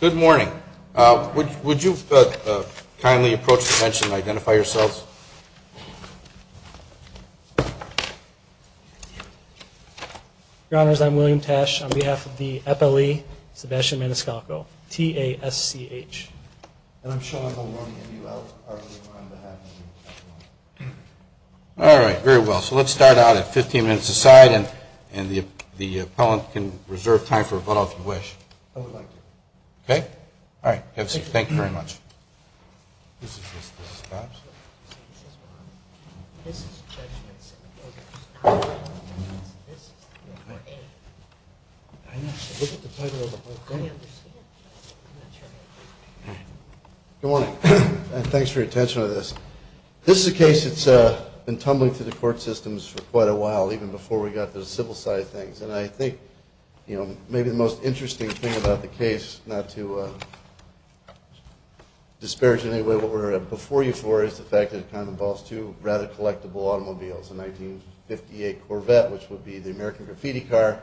Good morning. Would you kindly approach the bench and identify yourselves? Your Honors, I'm William Tash on behalf of the FLE, Sebastian Maniscalco, T-A-S-C-H. And I'm Sean Mulroney, M-U-L-R-O-N-E on behalf of the FLE. All right. Very well. So let's start out at 15 minutes aside and the appellant can reserve time for rebuttal if you wish. I would like to. Okay. All right. Thank you very much. Good morning. Thanks for your attention to this. This is a case that's been tumbling through the court systems for quite a while, even before we got to the civil side of things. And I think, you know, maybe the most interesting thing about the case, not to disparage it in any way, what we're before you for is the fact that it kind of involves two rather collectible automobiles, a 1958 Corvette, which would be the American graffiti car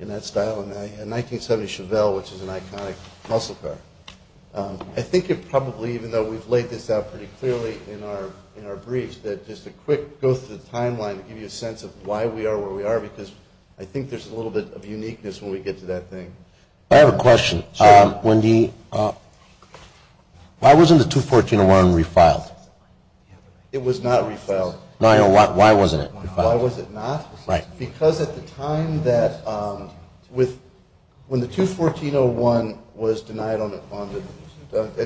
in that style, and a 1970 Chevelle, which is an iconic muscle car. I think it probably, even though we've laid this out pretty clearly in our briefs, that just a quick go through the timeline to give you a sense of why we are where we are, because I think there's a little bit of uniqueness when we get to that thing. I have a question. Why wasn't the 214-01 refiled? It was not refiled. Why wasn't it? Why was it not? Right. Because at the time that, when the 214-01 was denied,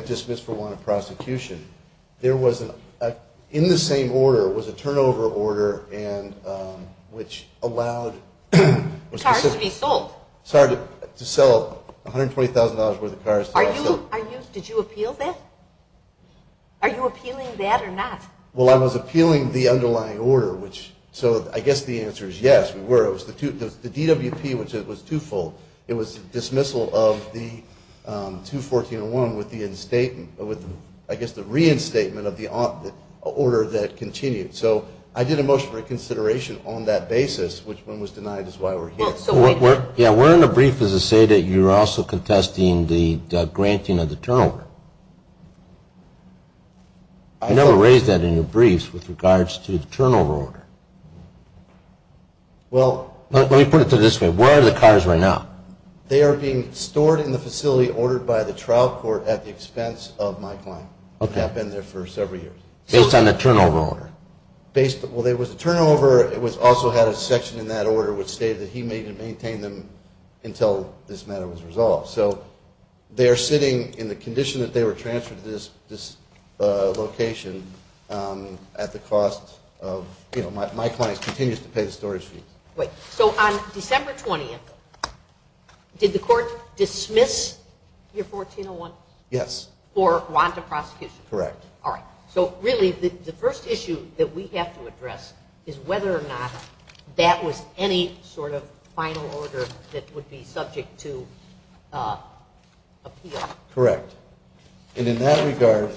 dismissed for want of prosecution, in the same order was a turnover order, which allowed cars to be sold. Sorry, to sell $120,000 worth of cars. Did you appeal that? Are you appealing that or not? Well, I was appealing the underlying order, so I guess the answer is yes, we were. It was the DWP, which was twofold. It was dismissal of the 214-01 with the reinstatement of the order that continued. So I did a motion for consideration on that basis, which one was denied is why we're here. Yeah, we're in the brief as to say that you're also contesting the granting of the turnover. I never raised that in your briefs with regards to the turnover order. Well, let me put it this way. Where are the cars right now? They are being stored in the facility ordered by the trial court at the expense of my client. Okay. They have been there for several years. Based on the turnover order? Well, there was a turnover. It also had a section in that order which stated that he may maintain them until this matter was resolved. So they are sitting in the condition that they were transferred to this location at the cost of, you know, my client continues to pay the storage fees. Right. So on December 20th, did the court dismiss your 14-01? Yes. For want of prosecution? Correct. All right. So really the first issue that we have to address is whether or not that was any sort of final order that would be subject to appeal. Correct. And in that regard,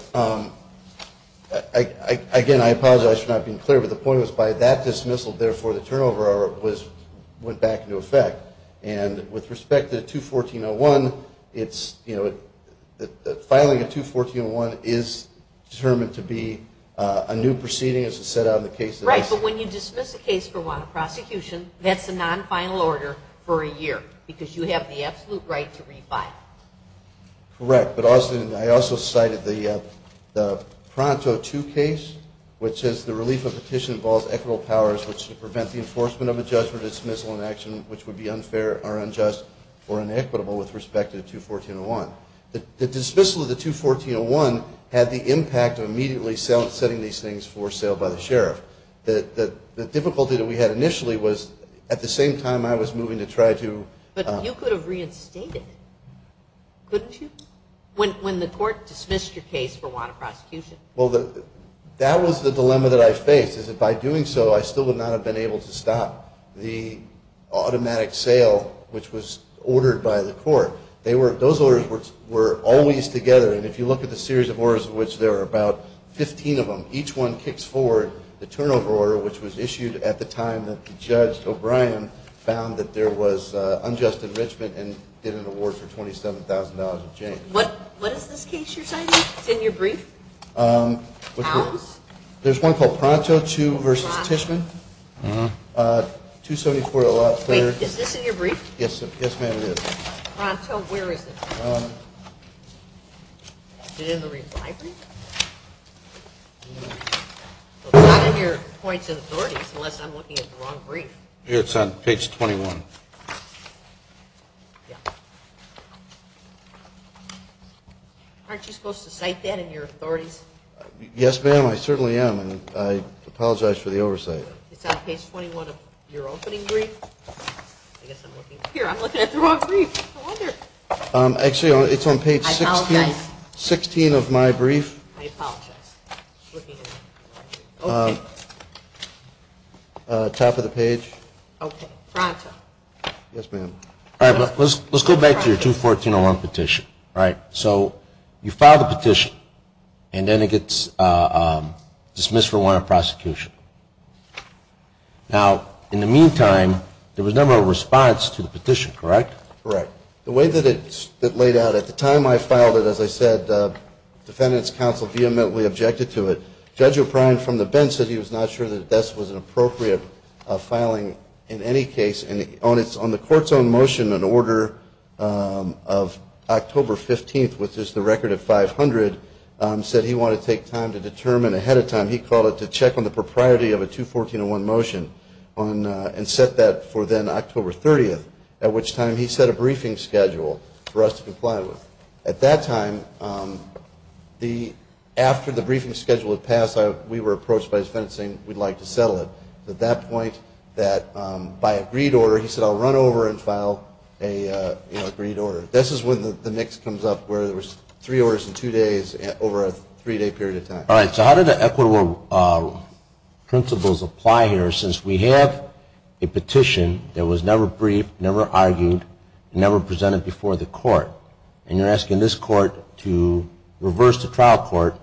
again, I apologize for not being clear, but the point was by that dismissal, therefore the turnover order went back into effect. And with respect to the 214-01, it's, you know, filing a 214-01 is determined to be a new proceeding as it set out in the case. Right. But when you dismiss a case for want of prosecution, that's a non-final order for a year because you have the absolute right to refile. Correct. But I also cited the Pronto 2 case, which says the relief of petition involves equitable powers which should prevent the enforcement of a judgment, dismissal, and action which would be unfair or unjust or inequitable with respect to the 214-01. The dismissal of the 214-01 had the impact of immediately setting these things for sale by the sheriff. The difficulty that we had initially was at the same time I was moving to try to – But you could have reinstated it, couldn't you, when the court dismissed your case for want of prosecution? Well, that was the dilemma that I faced is that by doing so, I still would not have been able to stop the automatic sale which was ordered by the court. Those orders were always together. And if you look at the series of orders in which there are about 15 of them, each one kicks forward the turnover order which was issued at the time that the judge, O'Brien, found that there was unjust enrichment and did an award for $27,000 of change. What is this case you're citing? Is it in your brief? There's one called Pronto 2 v. Tishman, 274. Is this in your brief? Yes, ma'am, it is. Pronto, where is it? Is it in the reply brief? It's not in your points and authorities unless I'm looking at the wrong brief. It's on page 21. Yeah. Aren't you supposed to cite that in your authorities? Yes, ma'am, I certainly am, and I apologize for the oversight. It's on page 21 of your opening brief. Here, I'm looking at the wrong brief. Actually, it's on page 16 of my brief. I apologize. Top of the page. Okay. Pronto. Yes, ma'am. All right. Let's go back to your 214-01 petition. All right. So you file the petition, and then it gets dismissed for warrant of prosecution. Now, in the meantime, there was no response to the petition, correct? Correct. The way that it's laid out, at the time I filed it, as I said, defendant's counsel vehemently objected to it. Judge O'Brien from the bench said he was not sure that this was an appropriate filing in any case, and on the court's own motion, an order of October 15th, which is the record of 500, said he wanted to take time to determine ahead of time. He called it to check on the propriety of a 214-01 motion and set that for then October 30th, at which time he set a briefing schedule for us to comply with. At that time, after the briefing schedule had passed, we were approached by his defense saying, we'd like to settle it. At that point, by agreed order, he said, I'll run over and file an agreed order. This is when the mix comes up where there was three orders in two days over a three-day period of time. All right, so how do the equitable principles apply here since we have a petition that was never briefed, never argued, never presented before the court, and you're asking this court to reverse the trial court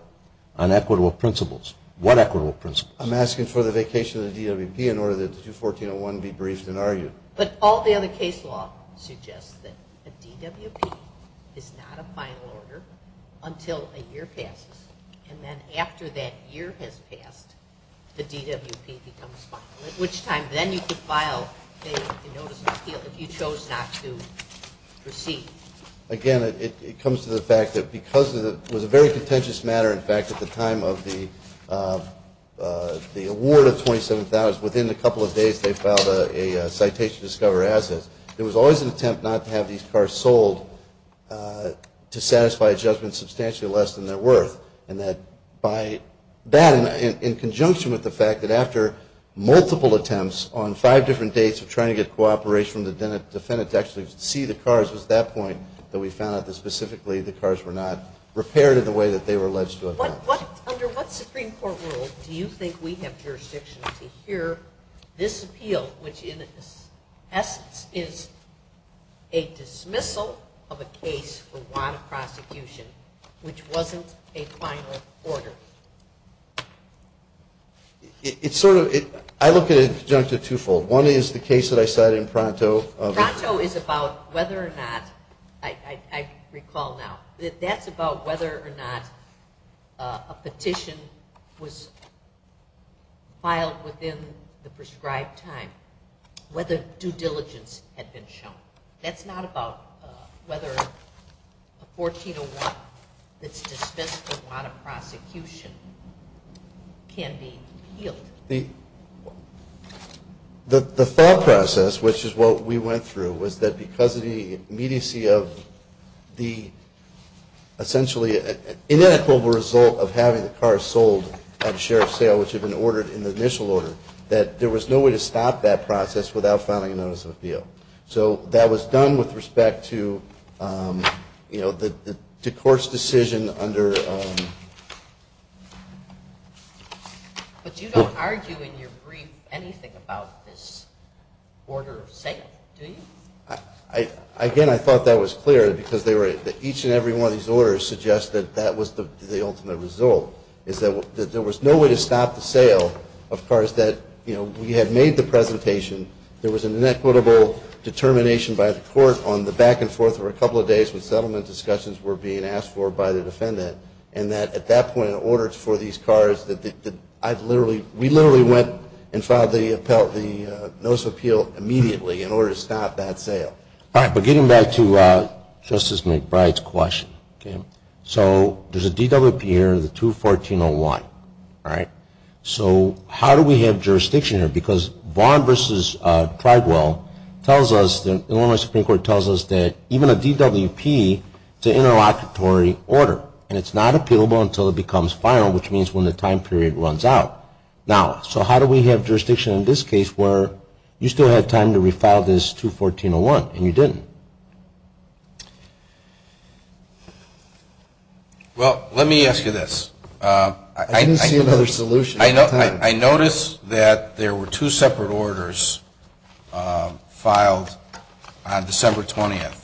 on equitable principles. What equitable principles? I'm asking for the vacation of the DWP in order that the 214-01 be briefed and argued. But all the other case law suggests that a DWP is not a final order until a year passes and then after that year has passed, the DWP becomes final, at which time then you could file a notice of appeal if you chose not to proceed. Again, it comes to the fact that because it was a very contentious matter, in fact, at the time of the award of $27,000, within a couple of days they filed a citation to discover assets. There was always an attempt not to have these cars sold to satisfy a judgment substantially less than they're worth, and that by that in conjunction with the fact that after multiple attempts on five different dates of trying to get cooperation from the defendant to actually see the cars was at that point that we found out that specifically the cars were not repaired in the way that they were alleged to have been. Under what Supreme Court rule do you think we have jurisdiction to hear this appeal, which in essence is a dismissal of a case for want of prosecution, which wasn't a final order? I look at it in conjunction twofold. One is the case that I cited in Pronto. Pronto is about whether or not, I recall now, that that's about whether or not a petition was filed within the prescribed time, whether due diligence had been shown. That's not about whether a 1401 that's dismissed for want of prosecution can be appealed. The thought process, which is what we went through, was that because of the immediacy of the essentially inequitable result of having the cars sold at the sheriff's sale, which had been ordered in the initial order, that there was no way to stop that process without filing a notice of appeal. So that was done with respect to the court's decision under... But you don't argue in your brief anything about this order of sale, do you? Again, I thought that was clear because each and every one of these orders suggests that that was the ultimate result, is that there was no way to stop the sale. Of course, we had made the presentation. There was an inequitable determination by the court on the back and forth for a couple of days when settlement discussions were being asked for by the defendant, and that at that point, in order for these cars... We literally went and filed the notice of appeal immediately in order to stop that sale. All right, but getting back to Justice McBride's question. So there's a DWP here, the 21401, all right? So how do we have jurisdiction here? Because Vaughn v. Pridewell tells us, the Illinois Supreme Court tells us, that even a DWP is an interlocutory order, and it's not appealable until it becomes final, which means when the time period runs out. Now, so how do we have jurisdiction in this case where you still had time to refile this 21401 and you didn't? Well, let me ask you this. I didn't see another solution. I noticed that there were two separate orders filed on December 20th,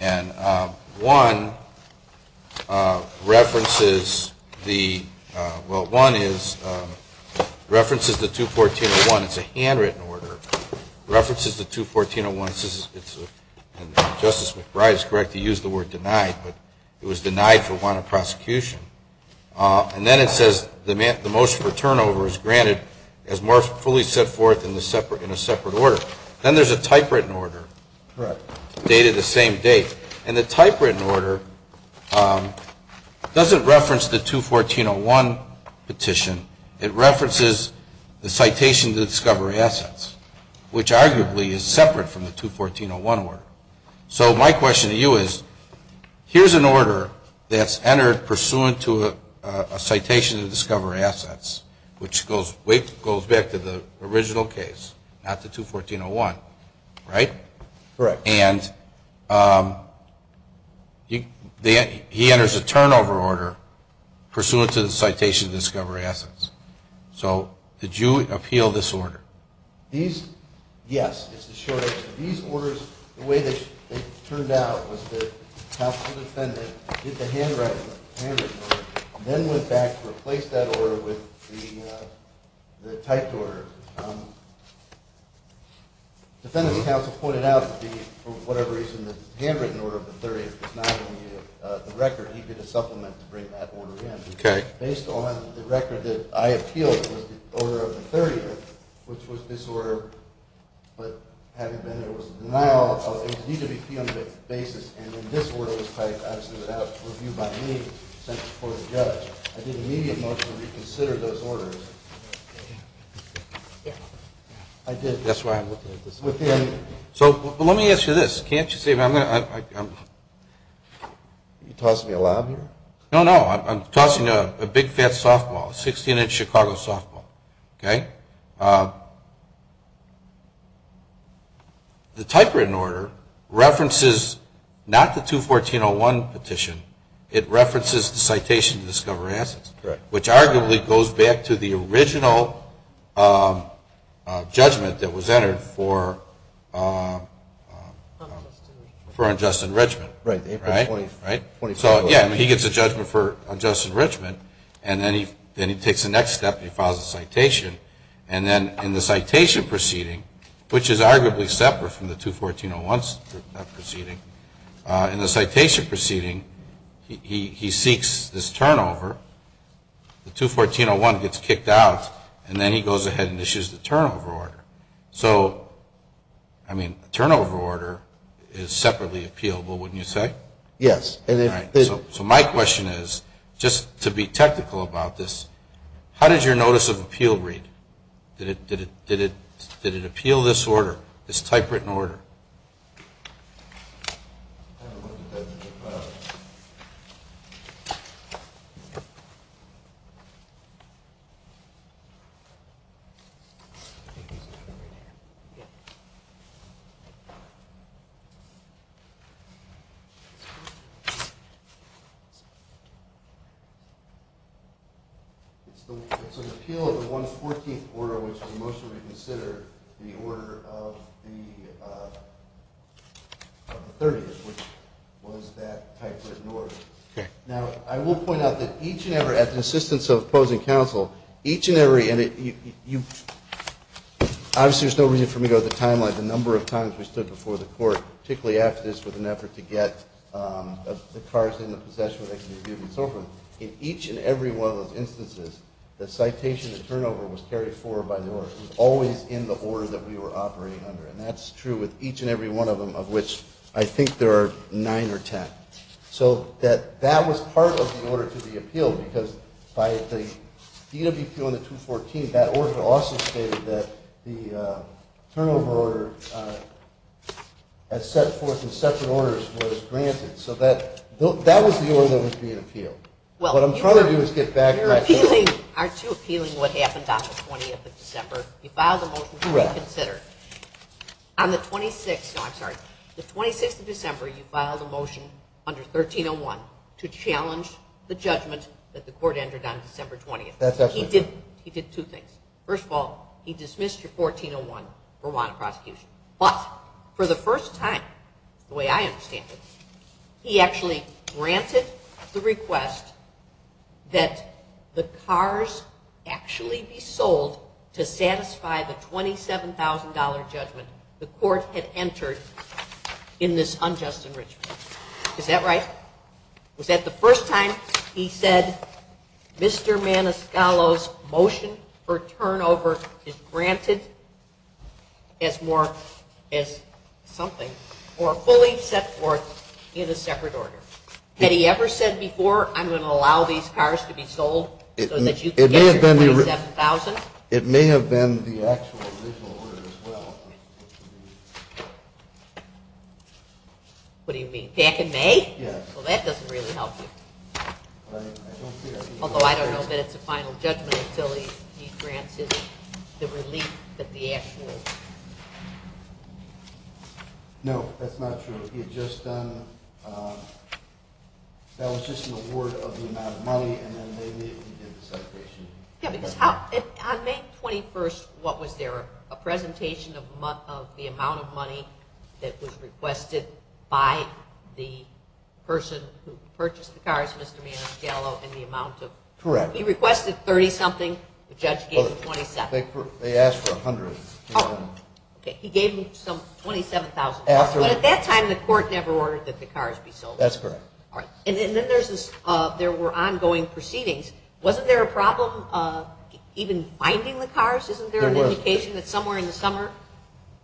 and one references the 21401. It's a handwritten order. It references the 21401. Justice McBride is correct to use the word denied, but it was denied for want of prosecution. And then it says the motion for turnover is granted as more fully set forth in a separate order. Then there's a typewritten order dated the same date, and the typewritten order doesn't reference the 21401 petition. It references the citation to discovery assets, which arguably is separate from the 21401 order. So my question to you is, here's an order that's entered pursuant to a citation to discovery assets, which goes back to the original case, not the 21401, right? Correct. And he enters a turnover order pursuant to the citation to discovery assets. So did you appeal this order? Yes, it's a short answer. These orders, the way they turned out was that the counsel defendant did the handwritten order and then went back to replace that order with the typed order. The defendant counsel pointed out that for whatever reason the handwritten order of the 30th was not on the record. He did a supplement to bring that order in. Okay. Based on the record that I appealed, it was the order of the 30th, which was this order, but having been there was a denial of a DWP on the basis, and then this order was typed obviously without review by me, sent before the judge. I did an immediate motion to reconsider those orders. That's why I'm looking at this. So let me ask you this. Can't you see I'm going to ‑‑ Are you tossing me a lab here? No, no. I'm tossing a big, fat softball, a 16-inch Chicago softball. Okay? The typewritten order references not the 214.01 petition. It references the citation to discovery assets, which arguably goes back to the original judgment that was entered for unjust enrichment. Right. So, yeah, he gets a judgment for unjust enrichment, and then he takes the next step and he files a citation, and then in the citation proceeding, which is arguably separate from the 214.01 proceeding, in the citation proceeding, he seeks this turnover. The 214.01 gets kicked out, and then he goes ahead and issues the turnover order. So, I mean, a turnover order is separately appealable, wouldn't you say? Yes. So my question is, just to be technical about this, how did your notice of appeal read? Did it appeal this order, this typewritten order? I haven't looked at that. It's an appeal of the 114th order, which was mostly considered the order of the 30th, which was that typewritten order. Okay. Now, I will point out that each and every, at the assistance of opposing counsel, each and every, and obviously there's no reason for me to go to the timeline, the number of times we stood before the court, particularly after this, with an effort to get the cars in the possession where they can be reviewed and so forth. In each and every one of those instances, the citation, the turnover, was carried forward by the order. It was always in the order that we were operating under, and that's true with each and every one of them, of which I think there are nine or ten. So that was part of the order to be appealed because by the DWP on the 214th, that order also stated that the turnover order, as set forth in separate orders, was granted. So that was the order that was being appealed. What I'm trying to do is get back to that. Aren't you appealing what happened on the 20th of December? You filed a motion to reconsider. On the 26th of December, you filed a motion under 1301 to challenge the judgment that the court entered on December 20th. He did two things. First of all, he dismissed your 1401 Rwanda prosecution. But for the first time, the way I understand it, to satisfy the $27,000 judgment the court had entered in this unjust enrichment. Is that right? Was that the first time he said, Mr. Maniscalco's motion for turnover is granted as something or fully set forth in a separate order? Had he ever said before, I'm going to allow these cars to be sold so that you can get your $27,000? It may have been the actual original order as well. What do you mean? Back in May? Yes. Well, that doesn't really help you. Although I don't know that it's a final judgment until he grants the relief that the actual. No, that's not true. He had just done, that was just an award of the amount of money and then maybe he did the separation. Yes, because on May 21st, what was there? A presentation of the amount of money that was requested by the person who purchased the cars, Mr. Maniscalco, and the amount of. Correct. He requested $30,000 something, the judge gave him $27,000. They asked for $100,000. Okay, he gave him some $27,000. But at that time, the court never ordered that the cars be sold. That's correct. And then there were ongoing proceedings. Wasn't there a problem even finding the cars? Isn't there an indication that somewhere in the summer,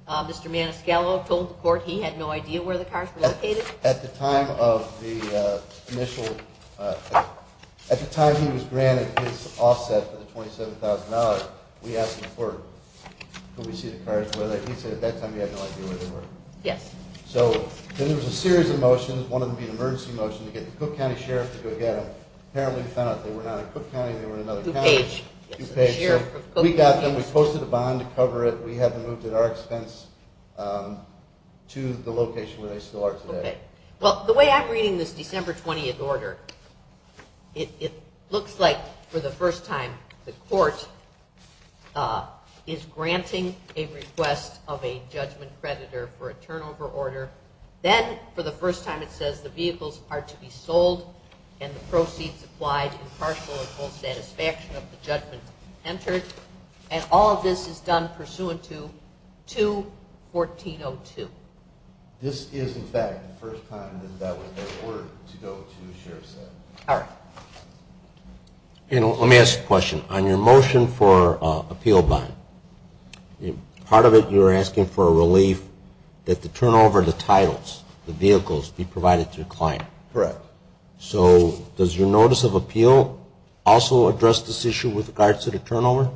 Mr. Maniscalco told the court he had no idea where the cars were located? At the time of the initial, at the time he was granted his offset for the $27,000, we asked the court, could we see the cars? He said at that time he had no idea where they were. Yes. So then there was a series of motions, one of them being an emergency motion to get the Cook County Sheriff to go get them. Apparently we found out they were not in Cook County, they were in another county. DuPage. We got them, we posted a bond to cover it, we had them moved at our expense to the location where they still are today. Okay. Well, the way I'm reading this December 20th order, it looks like for the first time the court is granting a request of a judgment creditor for a turnover order. Then for the first time it says the vehicles are to be sold and the proceeds applied in partial or full satisfaction of the judgment entered, and all of this is done pursuant to 2-1402. This is, in fact, the first time that that was the order to go to, as Sheriff said. All right. Let me ask a question. On your motion for appeal bond, part of it you were asking for a relief that the turnover of the titles, the vehicles, be provided to the client. Correct. So does your notice of appeal also address this issue with regards to the turnover?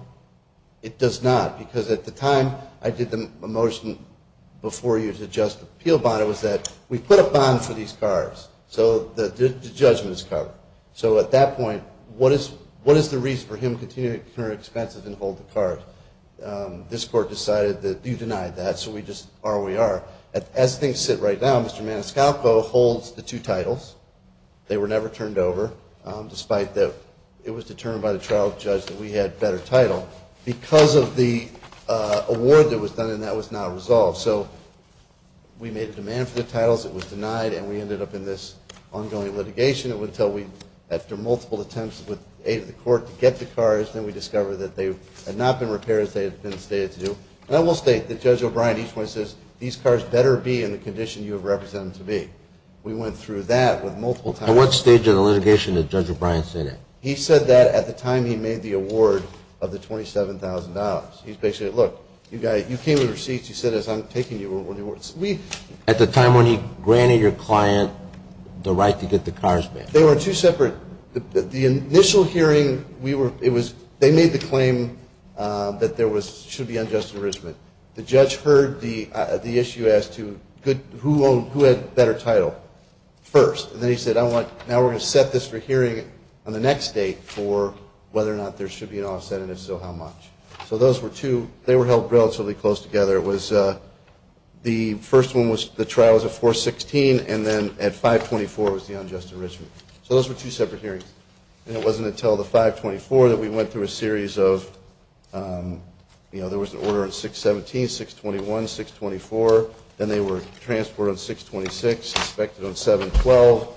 It does not. Because at the time I did the motion before you to adjust the appeal bond, it was that we put a bond for these cars, so the judgment is covered. So at that point, what is the reason for him continuing to incur expenses and hold the cars? This court decided that you denied that, so we just are where we are. As things sit right now, Mr. Maniscalco holds the two titles. They were never turned over, despite that it was determined by the trial judge that we had better title because of the award that was done, and that was not resolved. So we made a demand for the titles. It was denied, and we ended up in this ongoing litigation. It was until we, after multiple attempts with the aid of the court to get the cars, then we discovered that they had not been repaired as they had been stated to do. And I will state that Judge O'Brien each one says, these cars better be in the condition you have represented them to be. We went through that with multiple times. At what stage of the litigation did Judge O'Brien say that? He said that at the time he made the award of the $27,000. He basically said, look, you came with receipts. He said, as I'm taking you with the awards. At the time when he granted your client the right to get the cars back? They were two separate. The initial hearing, they made the claim that there should be unjust enrichment. The judge heard the issue as to who had better title first, and then he said, now we're going to set this for hearing on the next date for whether or not there should be an offset, and if so, how much. So those were two. They were held relatively close together. The first one, the trial was at 4-16, and then at 5-24 was the unjust enrichment. So those were two separate hearings. And it wasn't until the 5-24 that we went through a series of, you know, there was an order on 6-17, 6-21, 6-24. Then they were transported on 6-26, inspected on 7-12.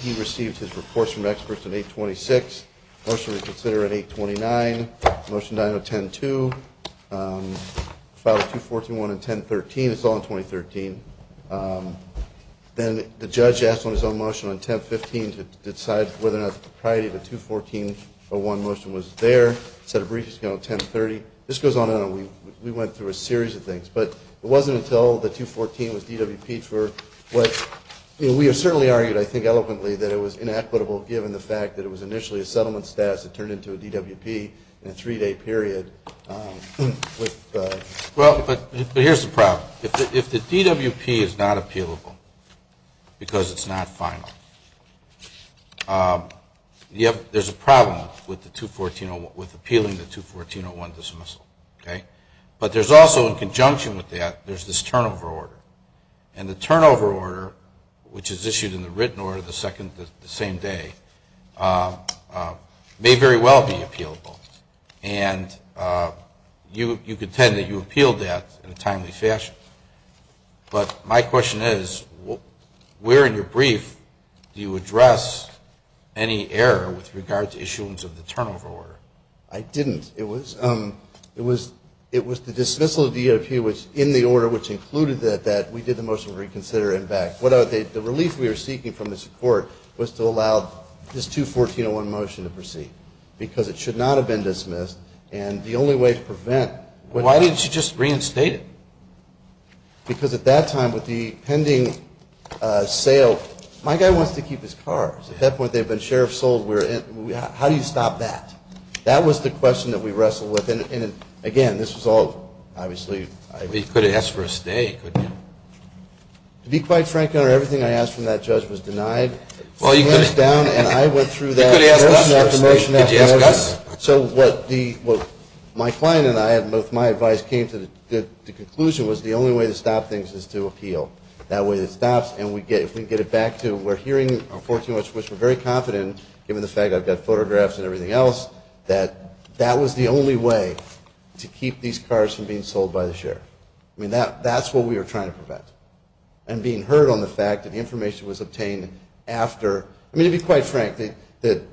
He received his reports from experts on 8-26. The motion was considered on 8-29. The motion died on 10-2. Filed at 2-14-1 and 10-13. It's all on 20-13. Then the judge asked on his own motion on 10-15 to decide whether or not the propriety of the 2-14-01 motion was there. Set a briefing schedule at 10-30. This goes on and on. We went through a series of things. But it wasn't until the 2-14 was DWPed for what we have certainly argued, I think eloquently, that it was inequitable given the fact that it was initially a settlement status that turned into a DWP in a three-day period. Well, but here's the problem. If the DWP is not appealable because it's not final, there's a problem with appealing the 2-14-01 dismissal. Okay? But there's also, in conjunction with that, there's this turnover order. And the turnover order, which is issued in the written order the same day, may very well be appealable. And you contend that you appealed that in a timely fashion. But my question is, where in your brief do you address any error with regard to issuance of the turnover order? I didn't. It was the dismissal of the DWP in the order which included that we did the motion to reconsider and back. The relief we were seeking from this report was to allow this 2-14-01 motion to proceed because it should not have been dismissed. And the only way to prevent was to reinstate it. Because at that time, with the pending sale, my guy wants to keep his car. At that point, they've been sheriff sold. How do you stop that? That was the question that we wrestled with. And, again, this was all obviously. You could have asked for a stay, couldn't you? To be quite frank, Your Honor, everything I asked from that judge was denied. Well, you could have. And I went through that motion after motion after motion. You could have asked us. Could you have asked us? So what my client and I, with my advice, came to the conclusion was the only way to stop things is to appeal. That way it stops. And if we can get it back to we're hearing on 14-1, which we're very confident, given the fact I've got photographs and everything else, that that was the only way to keep these cars from being sold by the sheriff. I mean, that's what we were trying to prevent. And being heard on the fact that information was obtained after. I mean, to be quite frank, the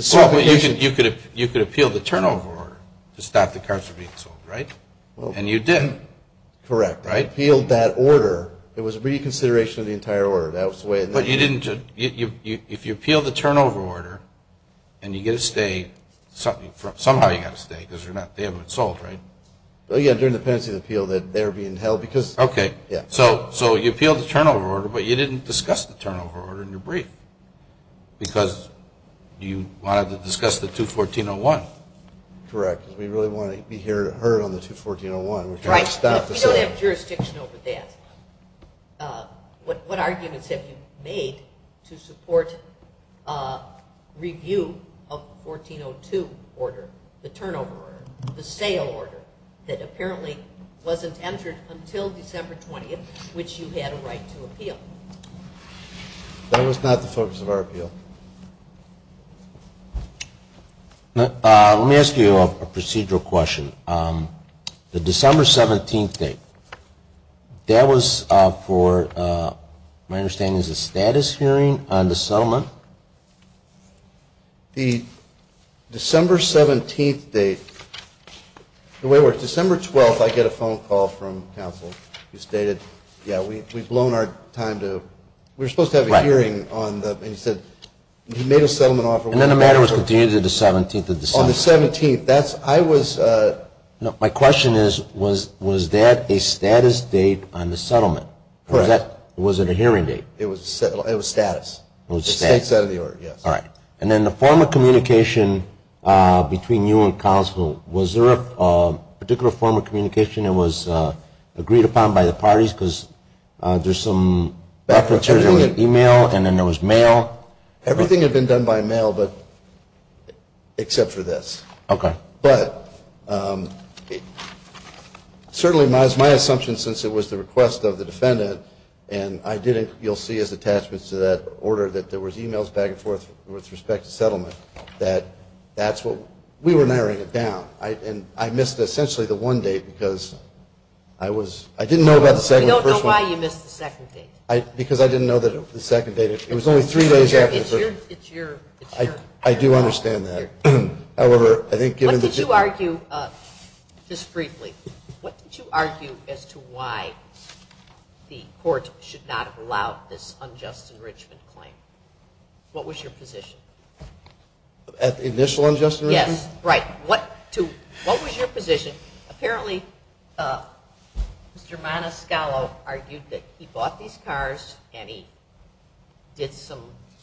certification. You could appeal the turnover order to stop the cars from being sold, right? And you did. Correct. I appealed that order. It was a reconsideration of the entire order. But if you appeal the turnover order and you get a stay, somehow you've got to stay because they haven't been sold, right? Well, yeah, during the penalty appeal, they're being held because. Okay. Yeah. So you appealed the turnover order, but you didn't discuss the turnover order in your brief because you wanted to discuss the 214-01. Correct. We really wanted to be heard on the 214-01. Right. We don't have jurisdiction over that. What arguments have you made to support review of the 14-02 order, the turnover order, the sale order, that apparently wasn't entered until December 20th, which you had a right to appeal? That was not the focus of our appeal. Let me ask you a procedural question. The December 17th date, that was for, my understanding, is a status hearing on the settlement. The December 17th date, the way it works, December 12th, I get a phone call from counsel who stated, yeah, we've blown our time to. We were supposed to have a hearing on the. And he said he made a settlement offer. And then the matter was continued to the 17th of December. On the 17th, that's, I was. My question is, was that a status date on the settlement? Correct. Or was it a hearing date? It was status. It was status. It's a state set of the order, yes. All right. And then the form of communication between you and counsel, was there a particular form of communication that was agreed upon by the parties because there's some. There was email and then there was mail. Everything had been done by mail but except for this. Okay. But certainly it was my assumption since it was the request of the defendant and I didn't, you'll see as attachments to that order, that there was emails back and forth with respect to settlement, that that's what, we were narrowing it down. And I missed essentially the one date because I was, I didn't know about the second. We don't know why you missed the second date. Because I didn't know that the second date, it was only three days after the third. It's your. I do understand that. However, I think given. What did you argue, just briefly, what did you argue as to why the court should not have allowed this unjust enrichment claim? What was your position? At the initial unjust enrichment? Yes. Right. What was your position? Apparently Mr. Maniscalco argued that he bought these cars and he did some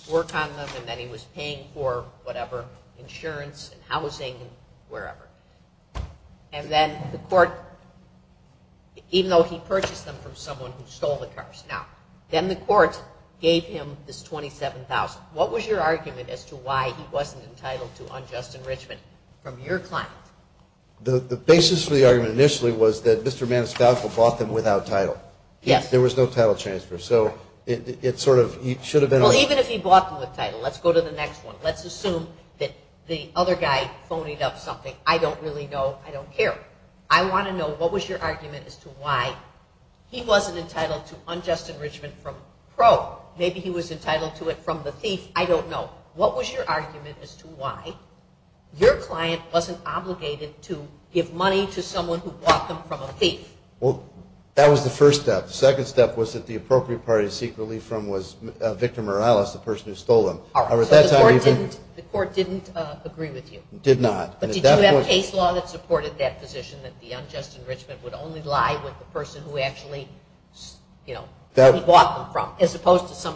work on them and that he was paying for whatever, insurance and housing, wherever. And then the court, even though he purchased them from someone who stole the cars. Now, then the court gave him this $27,000. What was your argument as to why he wasn't entitled to unjust enrichment from your client? The basis for the argument initially was that Mr. Maniscalco bought them without title. Yes. There was no title transfer. So it sort of should have been. Well, even if he bought them with title. Let's go to the next one. Let's assume that the other guy phonied up something. I don't really know. I don't care. I want to know what was your argument as to why he wasn't entitled to unjust enrichment from pro. Maybe he was entitled to it from the thief. I don't know. What was your argument as to why your client wasn't obligated to give money to someone who bought them from a thief? Well, that was the first step. The second step was that the appropriate party to seek relief from was Victor Morales, the person who stole them. All right. So the court didn't agree with you? Did not. But did you have case law that supported that position, that the unjust enrichment would only lie with the person who actually, you know, bought them from as opposed to some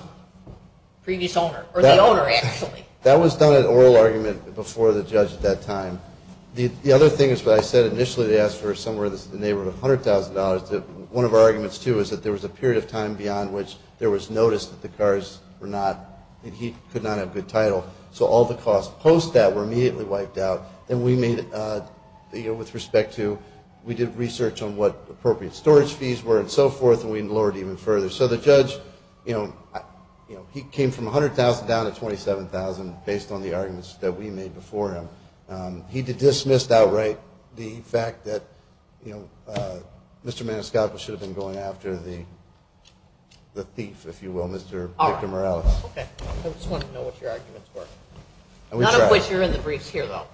previous owner or the owner actually? That was done at oral argument before the judge at that time. The other thing is what I said initially, they asked for somewhere in the neighborhood of $100,000. One of our arguments, too, is that there was a period of time beyond which there was notice that the cars were not, that he could not have good title. So all the costs post that were immediately wiped out. And we made, with respect to, we did research on what appropriate storage fees were and so forth, and we lowered even further. So the judge, you know, he came from $100,000 down to $27,000, based on the arguments that we made before him. He dismissed outright the fact that, you know, Mr. Maniscalco should have been going after the thief, if you will, Mr. Victor Morales. Okay. I just wanted to know what your arguments were. None of which are in the briefs here, though,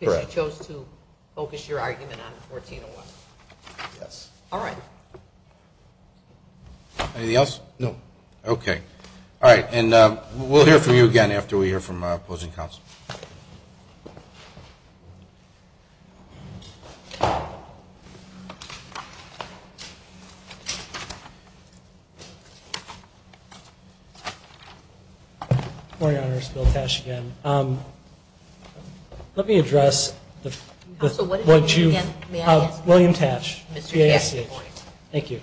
because you chose to focus your argument on 1401. Yes. All right. Anything else? No. Okay. All right. And we'll hear from you again after we hear from opposing counsel. Good morning, Your Honors. Bill Tash again. Let me address what you've. May I answer? William Tash, BASC. Thank you.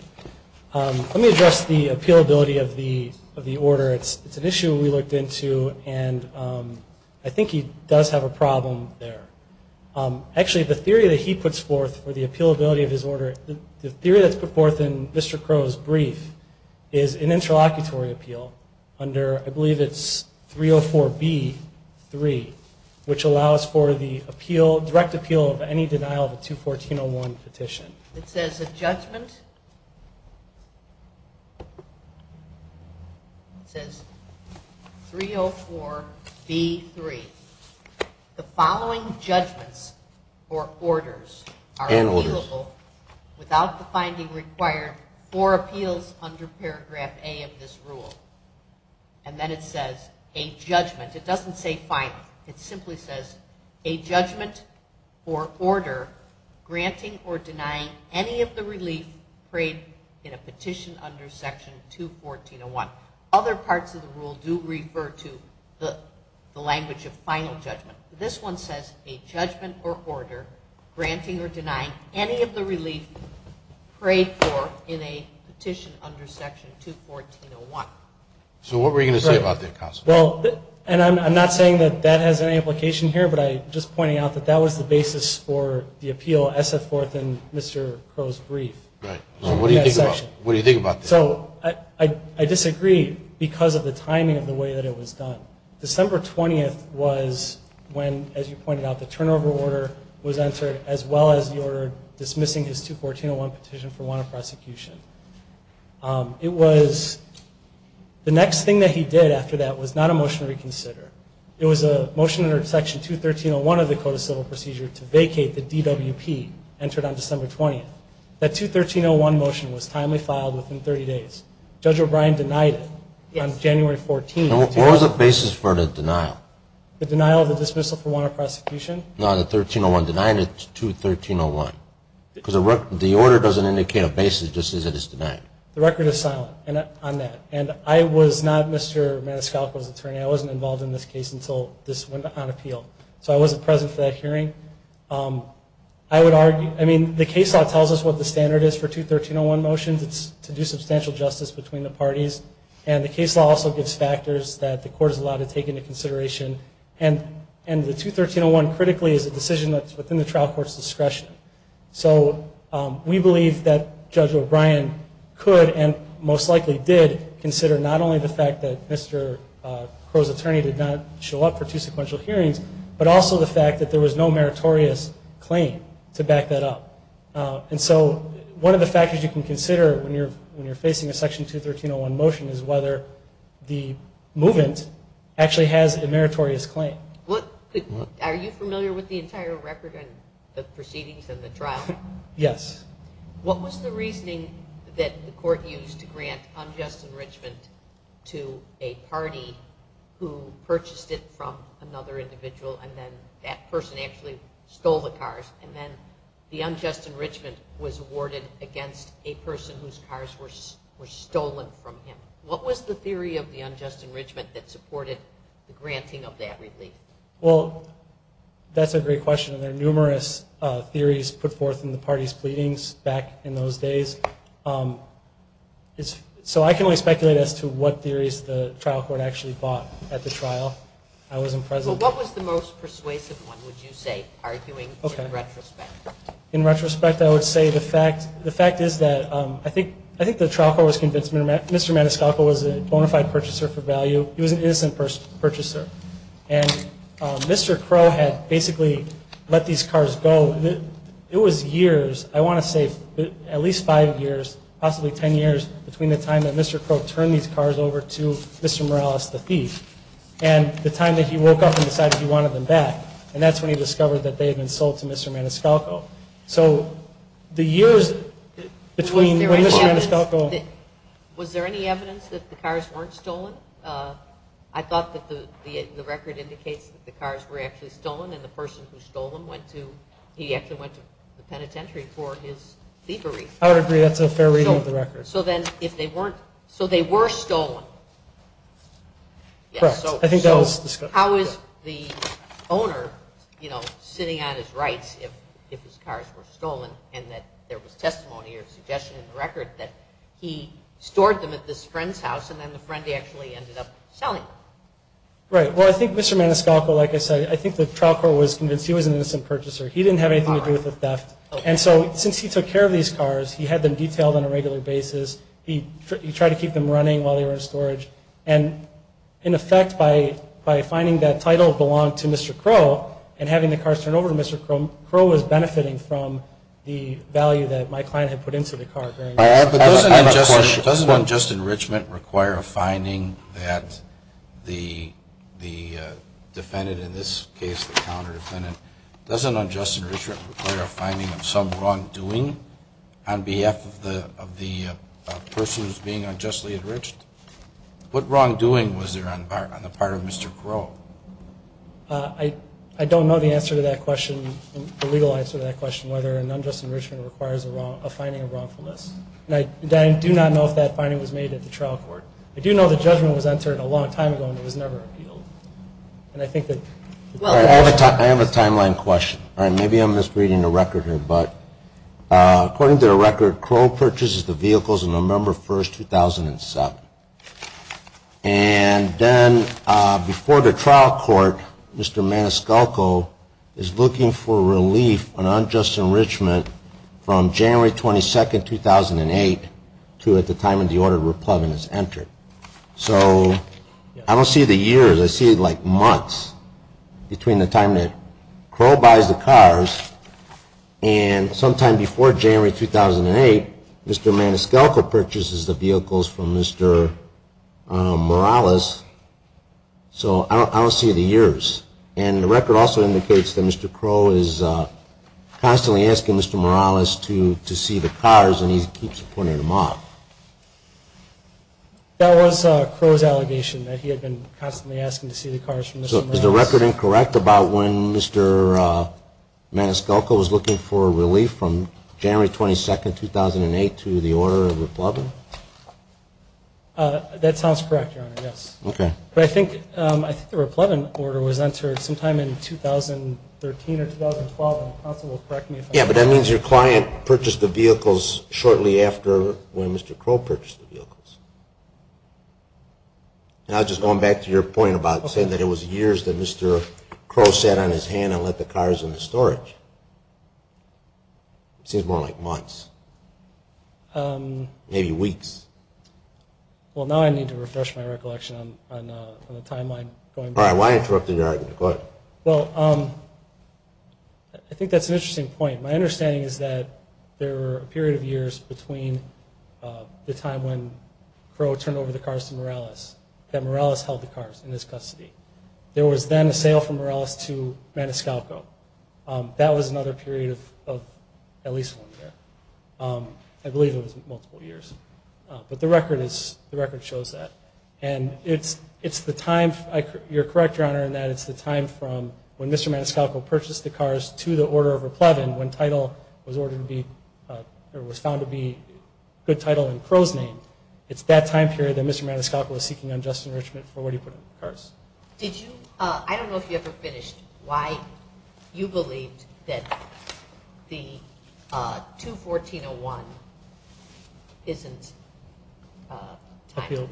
Let me address the appealability of the order. It's an issue we looked into, and I think he does have a problem there. Actually, the theory that he puts forth for the appealability of his order, the theory that's put forth in Mr. Crow's brief is an interlocutory appeal under, I believe it's 304B-3, which allows for the direct appeal of any denial of a 214-01 petition. It says a judgment. It says 304B-3. The following judgments or orders are appealable without the finding required or appeals under paragraph A of this rule. And then it says a judgment. It doesn't say final. It simply says a judgment or order granting or denying any of the relief prayed in a petition under Section 214-01. Other parts of the rule do refer to the language of final judgment. This one says a judgment or order granting or denying any of the relief prayed for in a petition under Section 214-01. So what were you going to say about that, Counselor? Well, and I'm not saying that that has any implication here, but I'm just pointing out that that was the basis for the appeal as set forth in Mr. Crow's brief. Right. So what do you think about this? So I disagree because of the timing of the way that it was done. December 20th was when, as you pointed out, the turnover order was entered as well as the order dismissing his 214-01 petition for want of prosecution. It was the next thing that he did after that was not a motion to reconsider. It was a motion under Section 213-01 of the Code of Civil Procedure to vacate the DWP entered on December 20th. That 213-01 motion was timely filed within 30 days. Judge O'Brien denied it on January 14th. What was the basis for the denial? The denial of the dismissal for want of prosecution? No, the 213-01 denial. It's 213-01. Because the order doesn't indicate a basis. It just says that it's denied. The record is silent on that. And I was not Mr. Maniscalco's attorney. I wasn't involved in this case until this went on appeal. So I wasn't present for that hearing. I would argue, I mean, the case law tells us what the standard is for 213-01 motions. It's to do substantial justice between the parties. And the case law also gives factors that the court is allowed to take into consideration. And the 213-01 critically is a decision that's within the trial court's discretion. So we believe that Judge O'Brien could and most likely did consider not only the fact that Mr. Crow's attorney did not show up for two sequential hearings, but also the fact that there was no meritorious claim to back that up. And so one of the factors you can consider when you're facing a Section 213-01 motion is whether the movement actually has a meritorious claim. Are you familiar with the entire record and the proceedings and the trial? Yes. What was the reasoning that the court used to grant unjust enrichment to a party who purchased it from another individual and then that person actually stole the cars? And then the unjust enrichment was awarded against a person whose cars were stolen from him. What was the theory of the unjust enrichment that supported the granting of that relief? Well, that's a great question. There are numerous theories put forth in the parties' pleadings back in those days. So I can only speculate as to what theories the trial court actually bought at the trial. I wasn't present. What was the most persuasive one, would you say, arguing in retrospect? In retrospect, I would say the fact is that I think the trial court was convinced Mr. Maniscalco was a bona fide purchaser for value. He was an innocent purchaser. And Mr. Crow had basically let these cars go. It was years, I want to say at least five years, possibly ten years, between the time that Mr. Crow turned these cars over to Mr. Morales, the thief, and the time that he woke up and decided he wanted them back. And that's when he discovered that they had been sold to Mr. Maniscalco. So the years between when Mr. Maniscalco was there any evidence that the cars weren't stolen? I thought that the record indicates that the cars were actually stolen and the person who stole them went to the penitentiary for his thievery. I would agree. That's a fair reading of the record. So they were stolen? Correct. I think that was discussed. How is the owner, you know, sitting on his rights if his cars were stolen and that there was testimony or suggestion in the record that he stored them at this friend's house and then the friend actually ended up selling them? Right. Well, I think Mr. Maniscalco, like I said, I think the trial court was convinced he was an innocent purchaser. He didn't have anything to do with the theft. And so since he took care of these cars, he had them detailed on a regular basis. He tried to keep them running while they were in storage. And, in effect, by finding that title belonged to Mr. Crow and having the cars turned over to Mr. Crow, Crow was benefiting from the value that my client had put into the car. I have a question. Doesn't unjust enrichment require a finding that the defendant, in this case the counter-defendant, doesn't unjust enrichment require a finding of some wrongdoing on behalf of the person who is being unjustly enriched? What wrongdoing was there on the part of Mr. Crow? I don't know the answer to that question, the legal answer to that question, whether an unjust enrichment requires a finding of wrongfulness. And I do not know if that finding was made at the trial court. I do know the judgment was entered a long time ago and it was never appealed. I have a timeline question. Maybe I'm misreading the record here, According to the record, Crow purchases the vehicles on November 1, 2007. And then before the trial court, Mr. Maniscalco is looking for relief on unjust enrichment from January 22, 2008 to at the time of the order of replugging that's entered. So I don't see the years, I see like months between the time that Crow buys the cars and sometime before January 2008, Mr. Maniscalco purchases the vehicles from Mr. Morales. So I don't see the years. And the record also indicates that Mr. Crow is constantly asking Mr. Morales to see the cars and he keeps pointing them off. That was Crow's allegation that he had been constantly asking to see the cars from Mr. Morales. Is the record incorrect about when Mr. Maniscalco was looking for relief from January 22, 2008 to the order of replugging? That sounds correct, Your Honor, yes. Okay. But I think the replugging order was entered sometime in 2013 or 2012 and the counsel will correct me if I'm wrong. Yeah, but that means your client purchased the vehicles shortly after when Mr. Crow purchased the vehicles. I was just going back to your point about saying that it was years that Mr. Crow sat on his hand and let the cars in the storage. It seems more like months. Maybe weeks. Well, now I need to refresh my recollection on the timeline going back. All right. Why interrupt the argument? Go ahead. Well, I think that's an interesting point. My understanding is that there were a period of years between the time when Crow turned over the cars to Morales that Morales held the cars in his custody. There was then a sale from Morales to Maniscalco. That was another period of at least one year. I believe it was multiple years. But the record shows that. And it's the time, you're correct, Your Honor, in that it's the time from when Mr. Maniscalco purchased the cars to the order of Replevin when title was found to be good title in Crow's name. It's that time period that Mr. Maniscalco was seeking unjust enrichment for what he put in the cars. I don't know if you ever finished why you believed that the 214.01 isn't time.